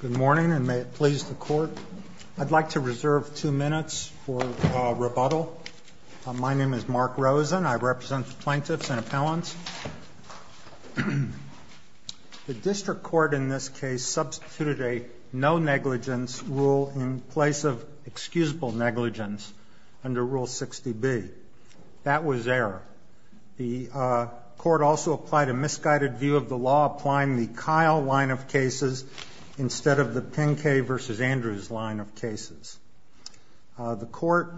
Good morning, and may it please the Court, I'd like to reserve two minutes for rebuttal. My name is Mark Rosen, I represent the plaintiffs and appellants. The District Court in this case substituted a no-negligence rule in place of excusable negligence under Rule 60B. That was error. The Court also applied a misguided view of the law applying the Kyle line of cases instead of the Pinkay v. Andrews line of cases. The Court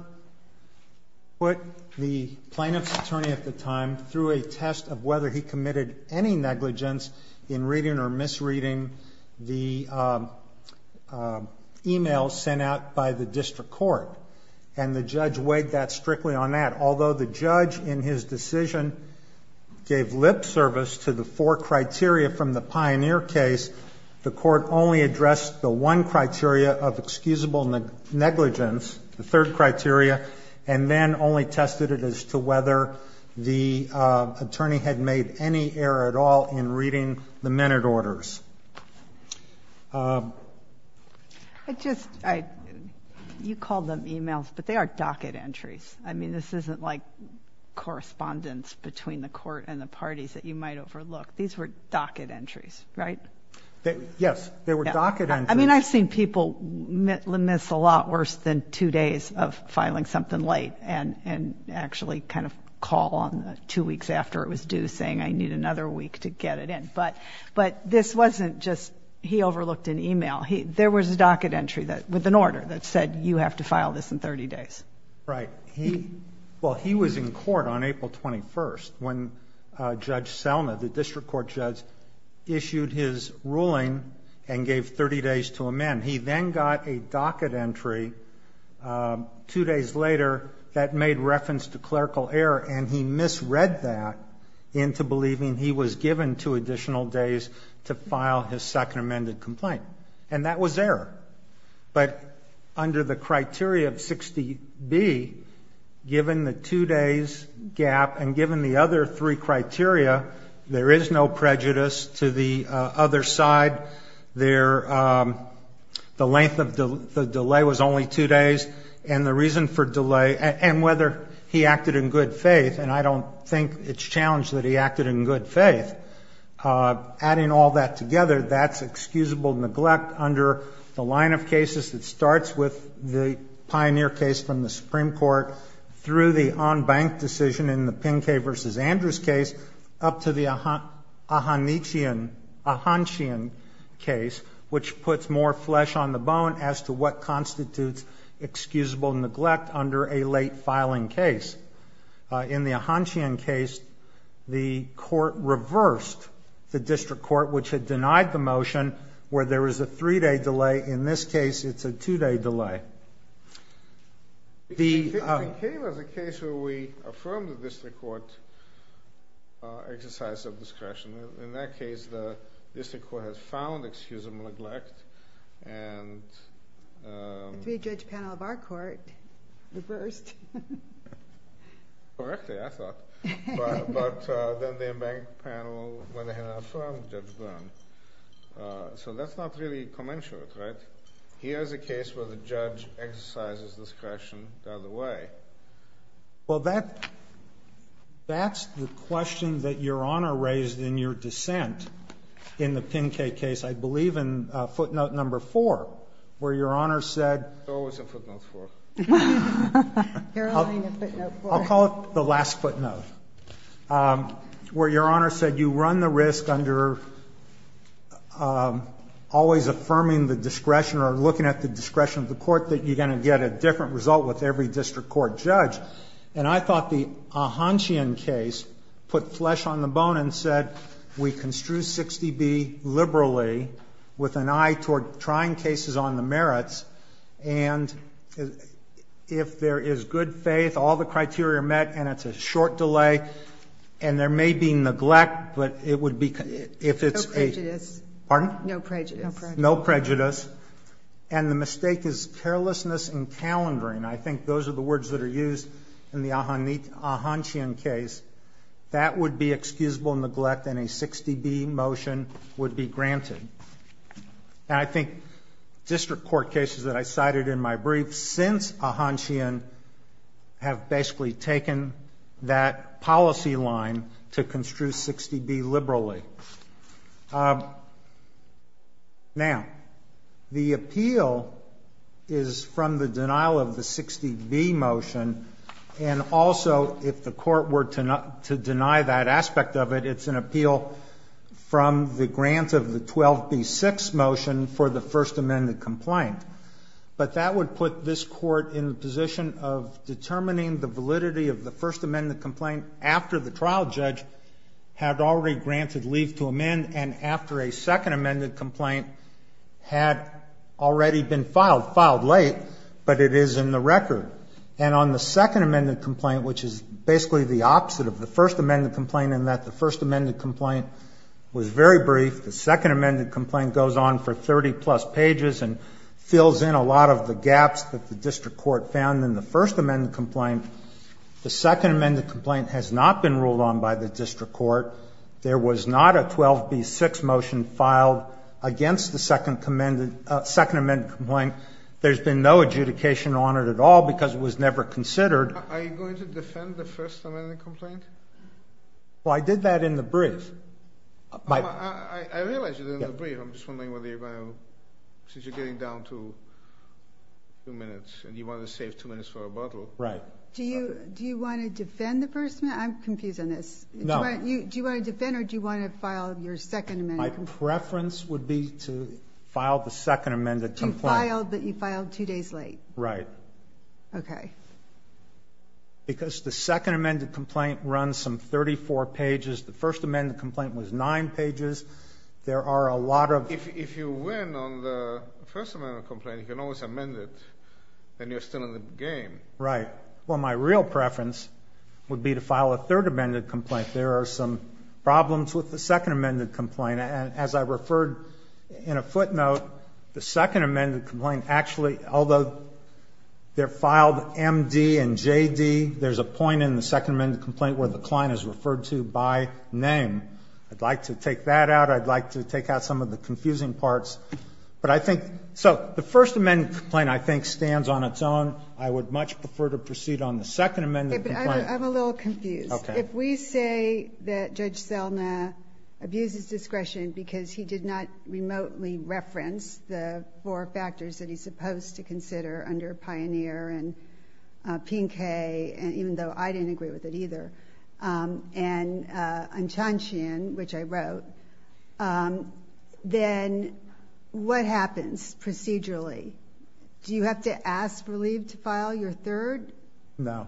put the plaintiff's attorney at the time through a test of whether he committed any negligence in reading or misreading the email sent out by the District Court, and the judge weighed that strictly on that. Although the judge in his decision gave lip service to the four criteria from the Pioneer case, the Court only addressed the one criteria of excusable negligence, the third criteria, and then only tested it as to whether the attorney had made any error at all in reading the minute orders. I just, I, you called them emails, but they are docket entries. I mean, this isn't like correspondence between the Court and the parties that you might overlook. These were docket entries, right? Yes, they were docket entries. I mean, I've seen people miss a lot worse than two days of filing something late and actually kind of call on two weeks after it was due saying, I need another week to get it in. But this wasn't just, he overlooked an email. There was a docket entry with an order that said, you have to file this in 30 days. Right. Well, he was in court on April 21st when Judge Selma, the District Court judge, issued his ruling and gave 30 days to amend. He then got a docket entry two days later that made reference to clerical error, and he misread that into believing he was given two additional days to file his second amended complaint. And that was error. But under the criteria of 60B, given the two days gap and given the other three criteria, there is no prejudice to the other side. The length of the delay was only two days, and the reason for delay, and whether he acted in good faith, and I don't think it's challenged that he acted in good faith, adding all that together, that's excusable neglect under the line of cases that starts with the Pioneer case from the Supreme Court through the on-bank decision in the Pincay v. Andrews case up to the Ahanchian case, which puts more flesh on the bone as to what constitutes excusable neglect under a late filing case. In the Ahanchian case, the court reversed the District Court, which had denied the motion where there was a three-day delay. In this case, it's a two-day delay. The... It came as a case where we affirmed the District Court exercise of discretion. In that case, the District Court has found excusable neglect, and... Well, that's the question that Your Honor raised in your dissent in the Pincay case, I believe, in footnote number four, where Your Honor said... It's always in footnote four. You're allowing a footnote four. I'll call it the last footnote, where Your Honor said, you run the risk under always affirming the discretion or looking at the discretion of the court that you're going to get a different result with every District Court judge. And I thought the Ahanchian case put flesh on the bone and said, we construe 60B liberally with an eye toward trying cases on the merits, and if there is good faith, all the criteria are met, and it's a short delay, and there may be neglect, but it would be... If it's a... No prejudice. Pardon? No prejudice. No prejudice. And the mistake is carelessness in calendaring. I think those are the words that are used in the Ahanchian case. That would be excusable neglect, and a 60B motion would be granted. And I think District Court cases that I cited in my brief since Ahanchian have basically taken that policy line to construe 60B liberally. Now, the appeal is from the denial of the 60B motion, and also if the court were to deny that aspect of it, it's an appeal from the grant of the 12B6 motion for the First Amendment complaint. But that would put this court in the position of determining the validity of the First Amendment complaint after the trial judge had already granted leave to amend, and after a Second Amendment complaint had already been filed, filed late, but it is in the record. And on the Second Amendment complaint, which is basically the opposite of the First Amendment complaint in that the First Amendment complaint was very brief. The Second Amendment complaint goes on for 30-plus pages and fills in a lot of the gaps that the District Court found in the First Amendment complaint. The Second Amendment complaint has not been ruled on by the District Court. There was not a 12B6 motion filed against the Second Amendment complaint. There's been no adjudication on it at all because it was never considered. Are you going to defend the First Amendment complaint? Well, I did that in the brief. I realize you did it in the brief. I'm just wondering whether you're going to, since you're getting down to a few minutes and you want to save two minutes for rebuttal. Right. Do you want to defend the First Amendment? I'm confused on this. No. Do you want to defend or do you want to file your Second Amendment complaint? My preference would be to file the Second Amendment complaint. You filed, but you filed two days late. Right. Okay. Because the Second Amendment complaint runs some 34 pages. The First Amendment complaint was nine pages. There are a lot of... If you win on the First Amendment complaint, you can always amend it, and you're still in the game. Right. Well, my real preference would be to file a Third Amendment complaint. There are some problems with the Second Amendment complaint. As I referred in a footnote, the Second Amendment complaint actually, although they're filed MD and JD, there's a point in the Second Amendment complaint where the client is referred to by name. I'd like to take that out. I'd like to take out some of the confusing parts. But I think... So the First Amendment complaint, I think, stands on its own. I would much prefer to proceed on the Second Amendment complaint. I'm a little confused. Okay. If we say that Judge Selna abuses discretion because he did not remotely reference the four factors that he's supposed to consider under Pioneer and Pinkay, even though I didn't agree with it either, and Unchanchian, which I wrote, then what happens procedurally? Do you have to ask for leave to file your third? No.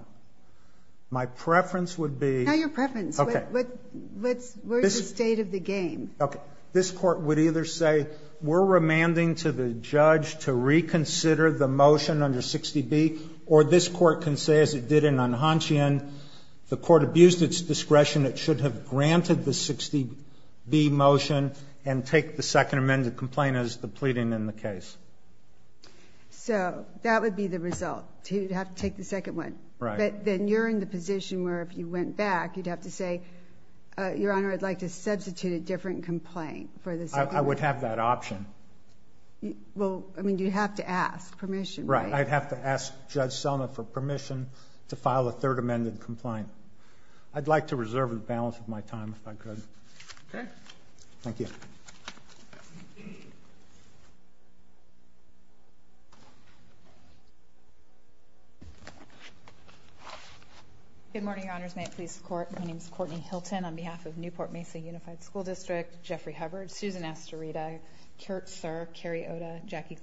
My preference would be... Not your preference. Okay. What's the state of the game? Okay. This court would either say, we're remanding to the judge to reconsider the motion under 60B, or this court can say, as it did in Unchanchian, the court abused its discretion. It should have granted the 60B motion and take the Second Amendment complaint as the pleading in the case. So that would be the result. You'd have to take the second one. Right. Then you're in the position where if you went back, you'd have to say, Your Honor, I'd like to substitute a different complaint for the Second Amendment. I would have that option. Well, I mean, you'd have to ask permission, right? Right. I'd have to ask Judge Selma for permission to file a Third Amendment complaint. I'd like to reserve the balance of my time, if I could. Okay. Thank you. Good morning, Your Honors. May it please the Court. My name is Courtney Hilton. On behalf of Newport Mesa Unified School District, Jeffrey Hubbard, Susan Astorita, Kurt Sirr, Carrie Oda, Jackie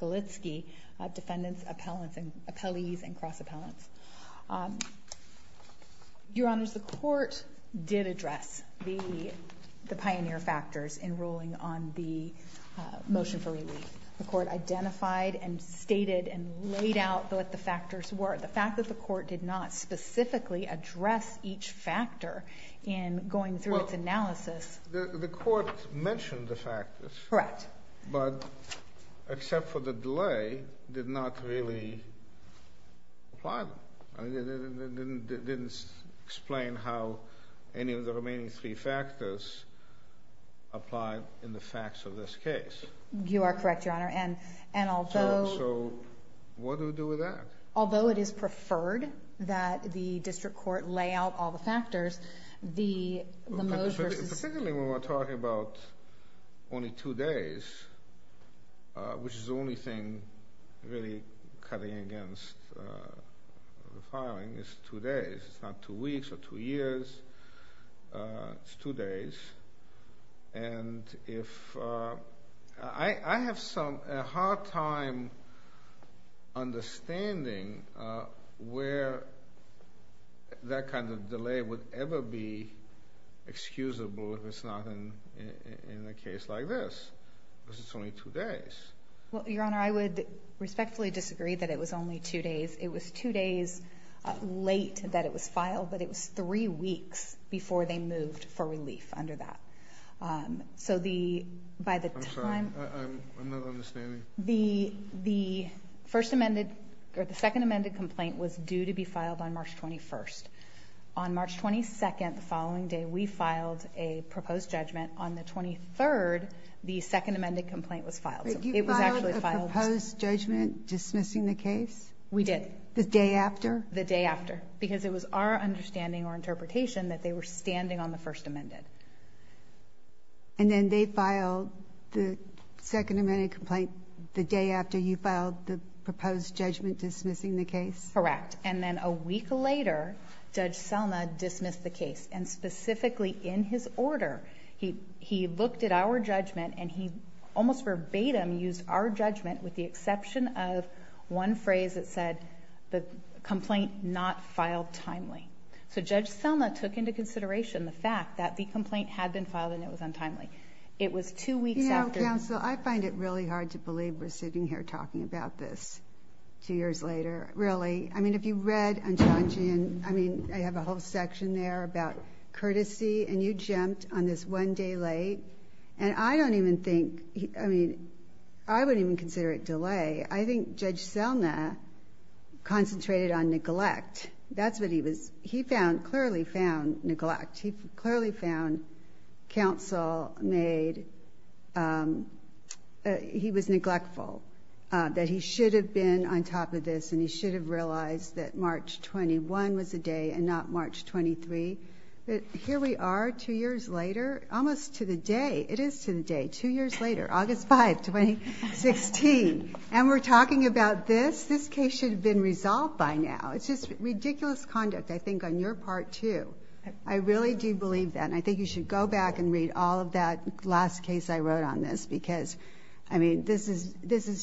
Golitski, defendants, appellees, and cross-appellants. Your Honors, the Court did address the pioneer factors in ruling on the motion for relief. The Court identified and stated and laid out what the factors were. The fact that the Court did not specifically address each factor in going through its analysis. The Court mentioned the factors. Correct. But, except for the delay, did not really apply them. It didn't explain how any of the remaining three factors applied in the facts of this case. You are correct, Your Honor. And although... So, what do we do with that? Although it is preferred that the District Court lay out all the factors, the motion... Particularly when we're talking about only two days, which is the only thing really cutting against the filing is two days. It's not two weeks or two years. It's two days. And if... I have some hard time understanding where that kind of delay would ever be excusable if it's not in a case like this, because it's only two days. Well, Your Honor, I would respectfully disagree that it was only two days. It was two days late that it was filed, but it was three weeks before they moved for relief under that. So, by the time... I'm sorry. I'm not understanding. The second amended complaint was due to be filed on March 21st. On March 22nd, the following day, we filed a proposed judgment. On the 23rd, the second amended complaint was filed. It was actually filed... But you filed a proposed judgment dismissing the case? We did. The day after? The day after. Because it was our understanding or interpretation that they were standing on the first amended. And then, they filed the second amended complaint the day after you filed the proposed judgment dismissing the case? Correct. Correct. And then, a week later, Judge Selma dismissed the case. And specifically in his order, he looked at our judgment and he almost verbatim used our judgment with the exception of one phrase that said the complaint not filed timely. So, Judge Selma took into consideration the fact that the complaint had been filed and it was untimely. It was two weeks after... You know, counsel, I find it really hard to believe we're sitting here talking about this two years later. Really. I mean, if you read Unchangian, I mean, I have a whole section there about courtesy and you jumped on this one day late. And I don't even think... I mean, I wouldn't even consider it delay. I think Judge Selma concentrated on neglect. That's what he was... He found... Clearly found neglect. He clearly found counsel made... He was neglectful. That he should have been on top of this and he should have realized that March 21 was the day and not March 23. But here we are two years later, almost to the day. It is to the day. Two years later. August 5, 2016. And we're talking about this. This case should have been resolved by now. It's just ridiculous conduct, I think, on your part too. I really do believe that. And I think you should go back and read all of that last case I mentioned, which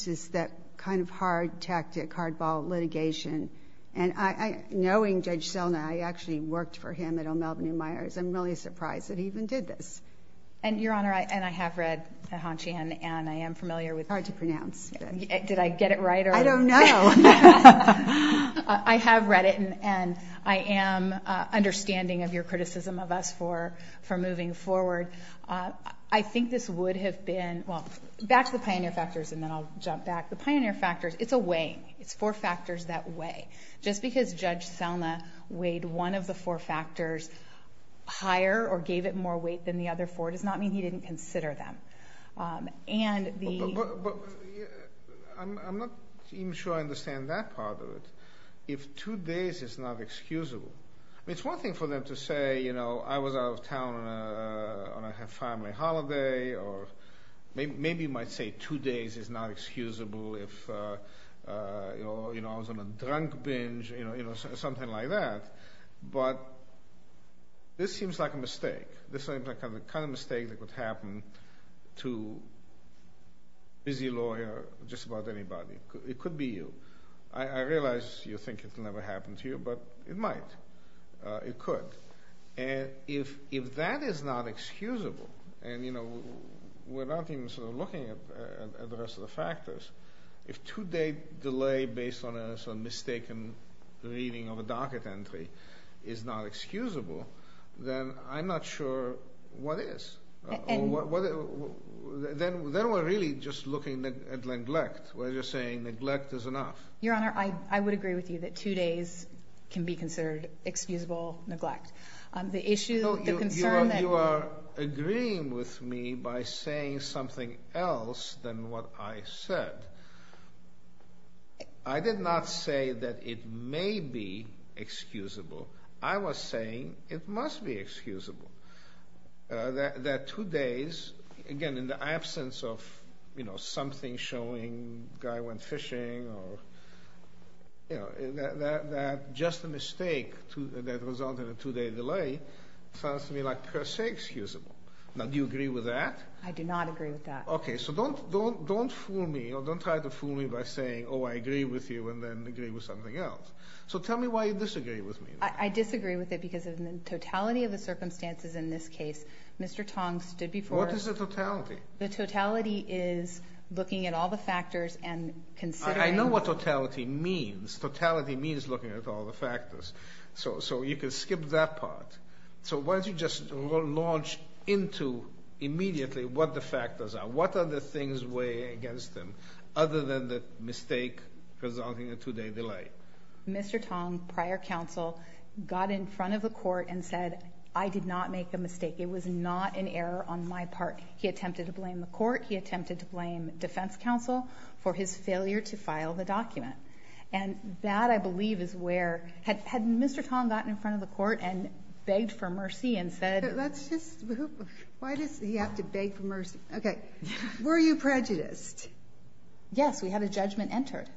is that kind of hard tactic, hardball litigation. And I... Knowing Judge Selma, I actually worked for him at O'Melveny Meyers. I'm really surprised that he even did this. And, Your Honor, and I have read Hanchian and I am familiar with... It's hard to pronounce. Did I get it right or... I don't know. I have read it and I am understanding of your criticism of us for moving forward. I think this would have been... Back to the pioneer factors and then I'll jump back. The pioneer factors, it's a weighing. It's four factors that weigh. Just because Judge Selma weighed one of the four factors higher or gave it more weight than the other four does not mean he didn't consider them. And the... But I'm not even sure I understand that part of it. If two days is not excusable. It's one thing for them to say, you know, I was out of town on a family holiday or maybe you might say two days is not excusable if I was on a drunk binge, you know, something like that. But this seems like a mistake. This seems like the kind of mistake that would happen to a busy lawyer or just about anybody. It could be you. I realize you think it will never happen to you, but it might. It could. And if that is not excusable and, you know, we're not even sort of looking at the rest of the factors, if two-day delay based on a mistaken reading of a docket entry is not excusable, then I'm not sure what is. And... Then we're really just looking at neglect. We're just saying neglect is enough. Your Honor, I would agree with you that two days can be neglect. The issue, the concern that... No, you are agreeing with me by saying something else than what I said. I did not say that it may be excusable. I was saying it must be excusable. That two days, again, in the absence of, you know, something showing the guy went fishing or, you know, that just a mistake that resulted in a two-day delay sounds to me like per se excusable. Now, do you agree with that? I do not agree with that. Okay, so don't fool me or don't try to fool me by saying, oh, I agree with you and then agree with something else. So tell me why you disagree with me. I disagree with it because of the totality of the circumstances in this case. Mr. Tong stood before... What is the totality? The totality is looking at all the factors and considering... I know what totality means. Totality means looking at all the factors. So you can skip that part. So why don't you just launch into immediately what the factors are. What are the things weighing against them other than the mistake resulting in a two-day delay? Mr. Tong, prior counsel, got in front of the court and said, I did not make a mistake. It was not an error on my part. He attempted to blame the court. He attempted to blame defense counsel for his failure to file the document. And that, I believe, is where... Had Mr. Tong gotten in front of the court and begged for mercy and said... Let's just... Why does he have to beg for mercy? Okay. Were you prejudiced? Yes. We had a judgment entered.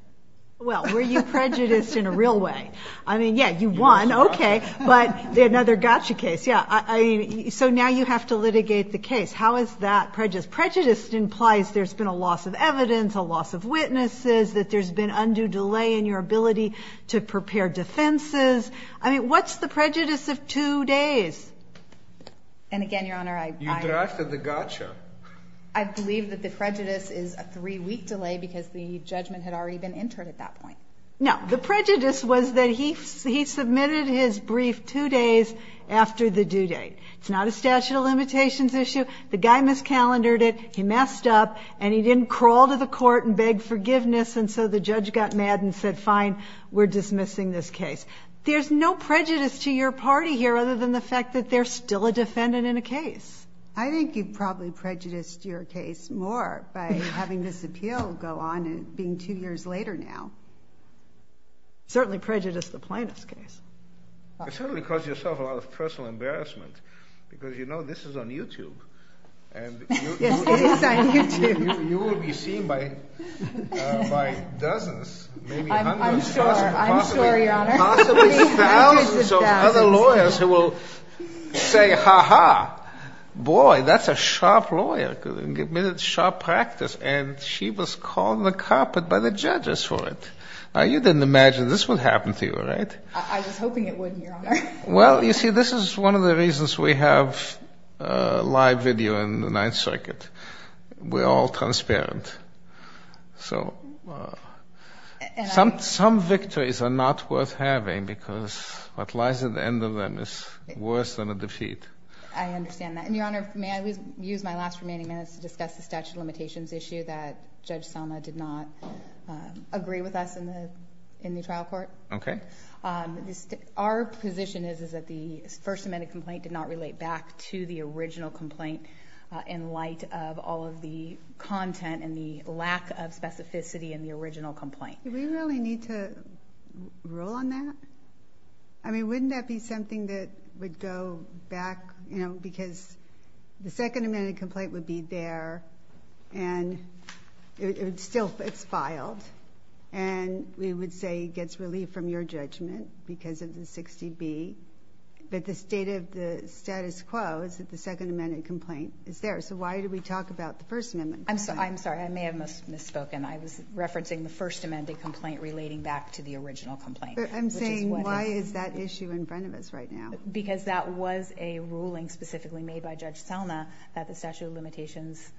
Well, were you prejudiced in a real way? I mean, yeah, you won. Okay. But another gotcha case. Yeah. So now you have to litigate the case. How is that prejudiced? Prejudiced implies there's been a loss of evidence, a loss of witnesses, that there's been undue delay in your ability to prepare defenses. I mean, what's the prejudice of two days? And again, Your Honor, I... You drafted the gotcha. I believe that the prejudice is a three-week delay because the judgment had already been entered at that point. No. The prejudice was that he submitted his brief two days after the due date. It's not a statute of limitations issue. The guy miscalendared it. He messed up, and he didn't crawl to the court and beg forgiveness, and so the judge got mad and said, fine, we're dismissing this case. There's no prejudice to your party here other than the fact that there's still a defendant in a case. I think you probably prejudiced your case more by having this appeal go on being two years later now. Certainly prejudiced the plaintiff's case. It certainly caused yourself a lot of personal embarrassment because you know this is on YouTube, and you... Yes, it is on YouTube. You will be seen by dozens, maybe hundreds... I'm sure. I'm sure, Your Honor. Possibly thousands of other lawyers who will say, ha-ha, boy, that's a sharp lawyer, committed sharp practice, and she was called on the carpet by the judges for it. Now, you didn't imagine this would happen to you, right? I was hoping it wouldn't, Your Honor. Well, you see, this is one of the reasons we have live video in the Ninth Circuit. We're all transparent. So some victories are not worth having because what lies at the end of them is worse than a defeat. I understand that. And, Your Honor, may I use my last remaining minutes to discuss the statute of limitations issue that Judge Salma did not agree with us in the trial court? Okay. Our position is that the First Amendment complaint did not relate back to the original complaint in light of all of the content and the lack of specificity in the original complaint. Do we really need to rule on that? I mean, wouldn't that be something that would go back... you know, because the Second Amendment complaint would be there, and it would still... it's filed. And we would say it gets relief from your judgment because of the 60B. But the state of the status quo is that the Second Amendment complaint is there. So why do we talk about the First Amendment complaint? I'm sorry. I may have misspoken. I was referencing the First Amendment complaint relating back to the original complaint. I'm saying why is that issue in front of us right now? Because that was a ruling specifically made by Judge Salma that the statute of limitations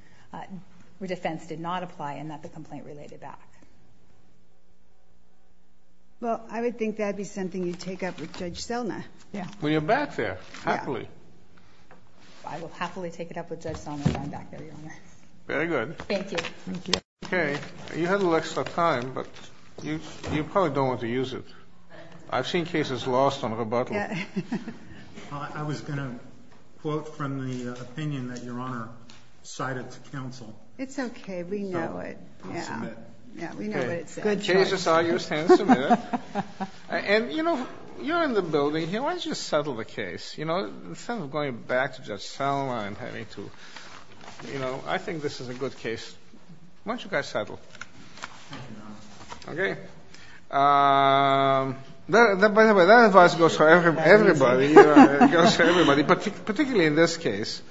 defense did not apply and that the complaint related back. Well, I would think that would be something you'd take up with Judge Salma. When you're back there, happily. I will happily take it up with Judge Salma when I'm back there, Your Honor. Very good. Thank you. Okay. You had a little extra time, but you probably don't want to use it. I've seen cases lost on rebuttal. I was going to quote from the opinion that Your Honor cited to counsel. It's okay. We know it. Yeah. We know what it said. Good choice. Cases are used handsomely. And you know, you're in the building here. Why don't you settle the case? Instead of going back to Judge Salma and having to... I think this is a good case. Why don't you guys settle? Okay. By the way, that advice goes for everybody. It goes for everybody, particularly in this case.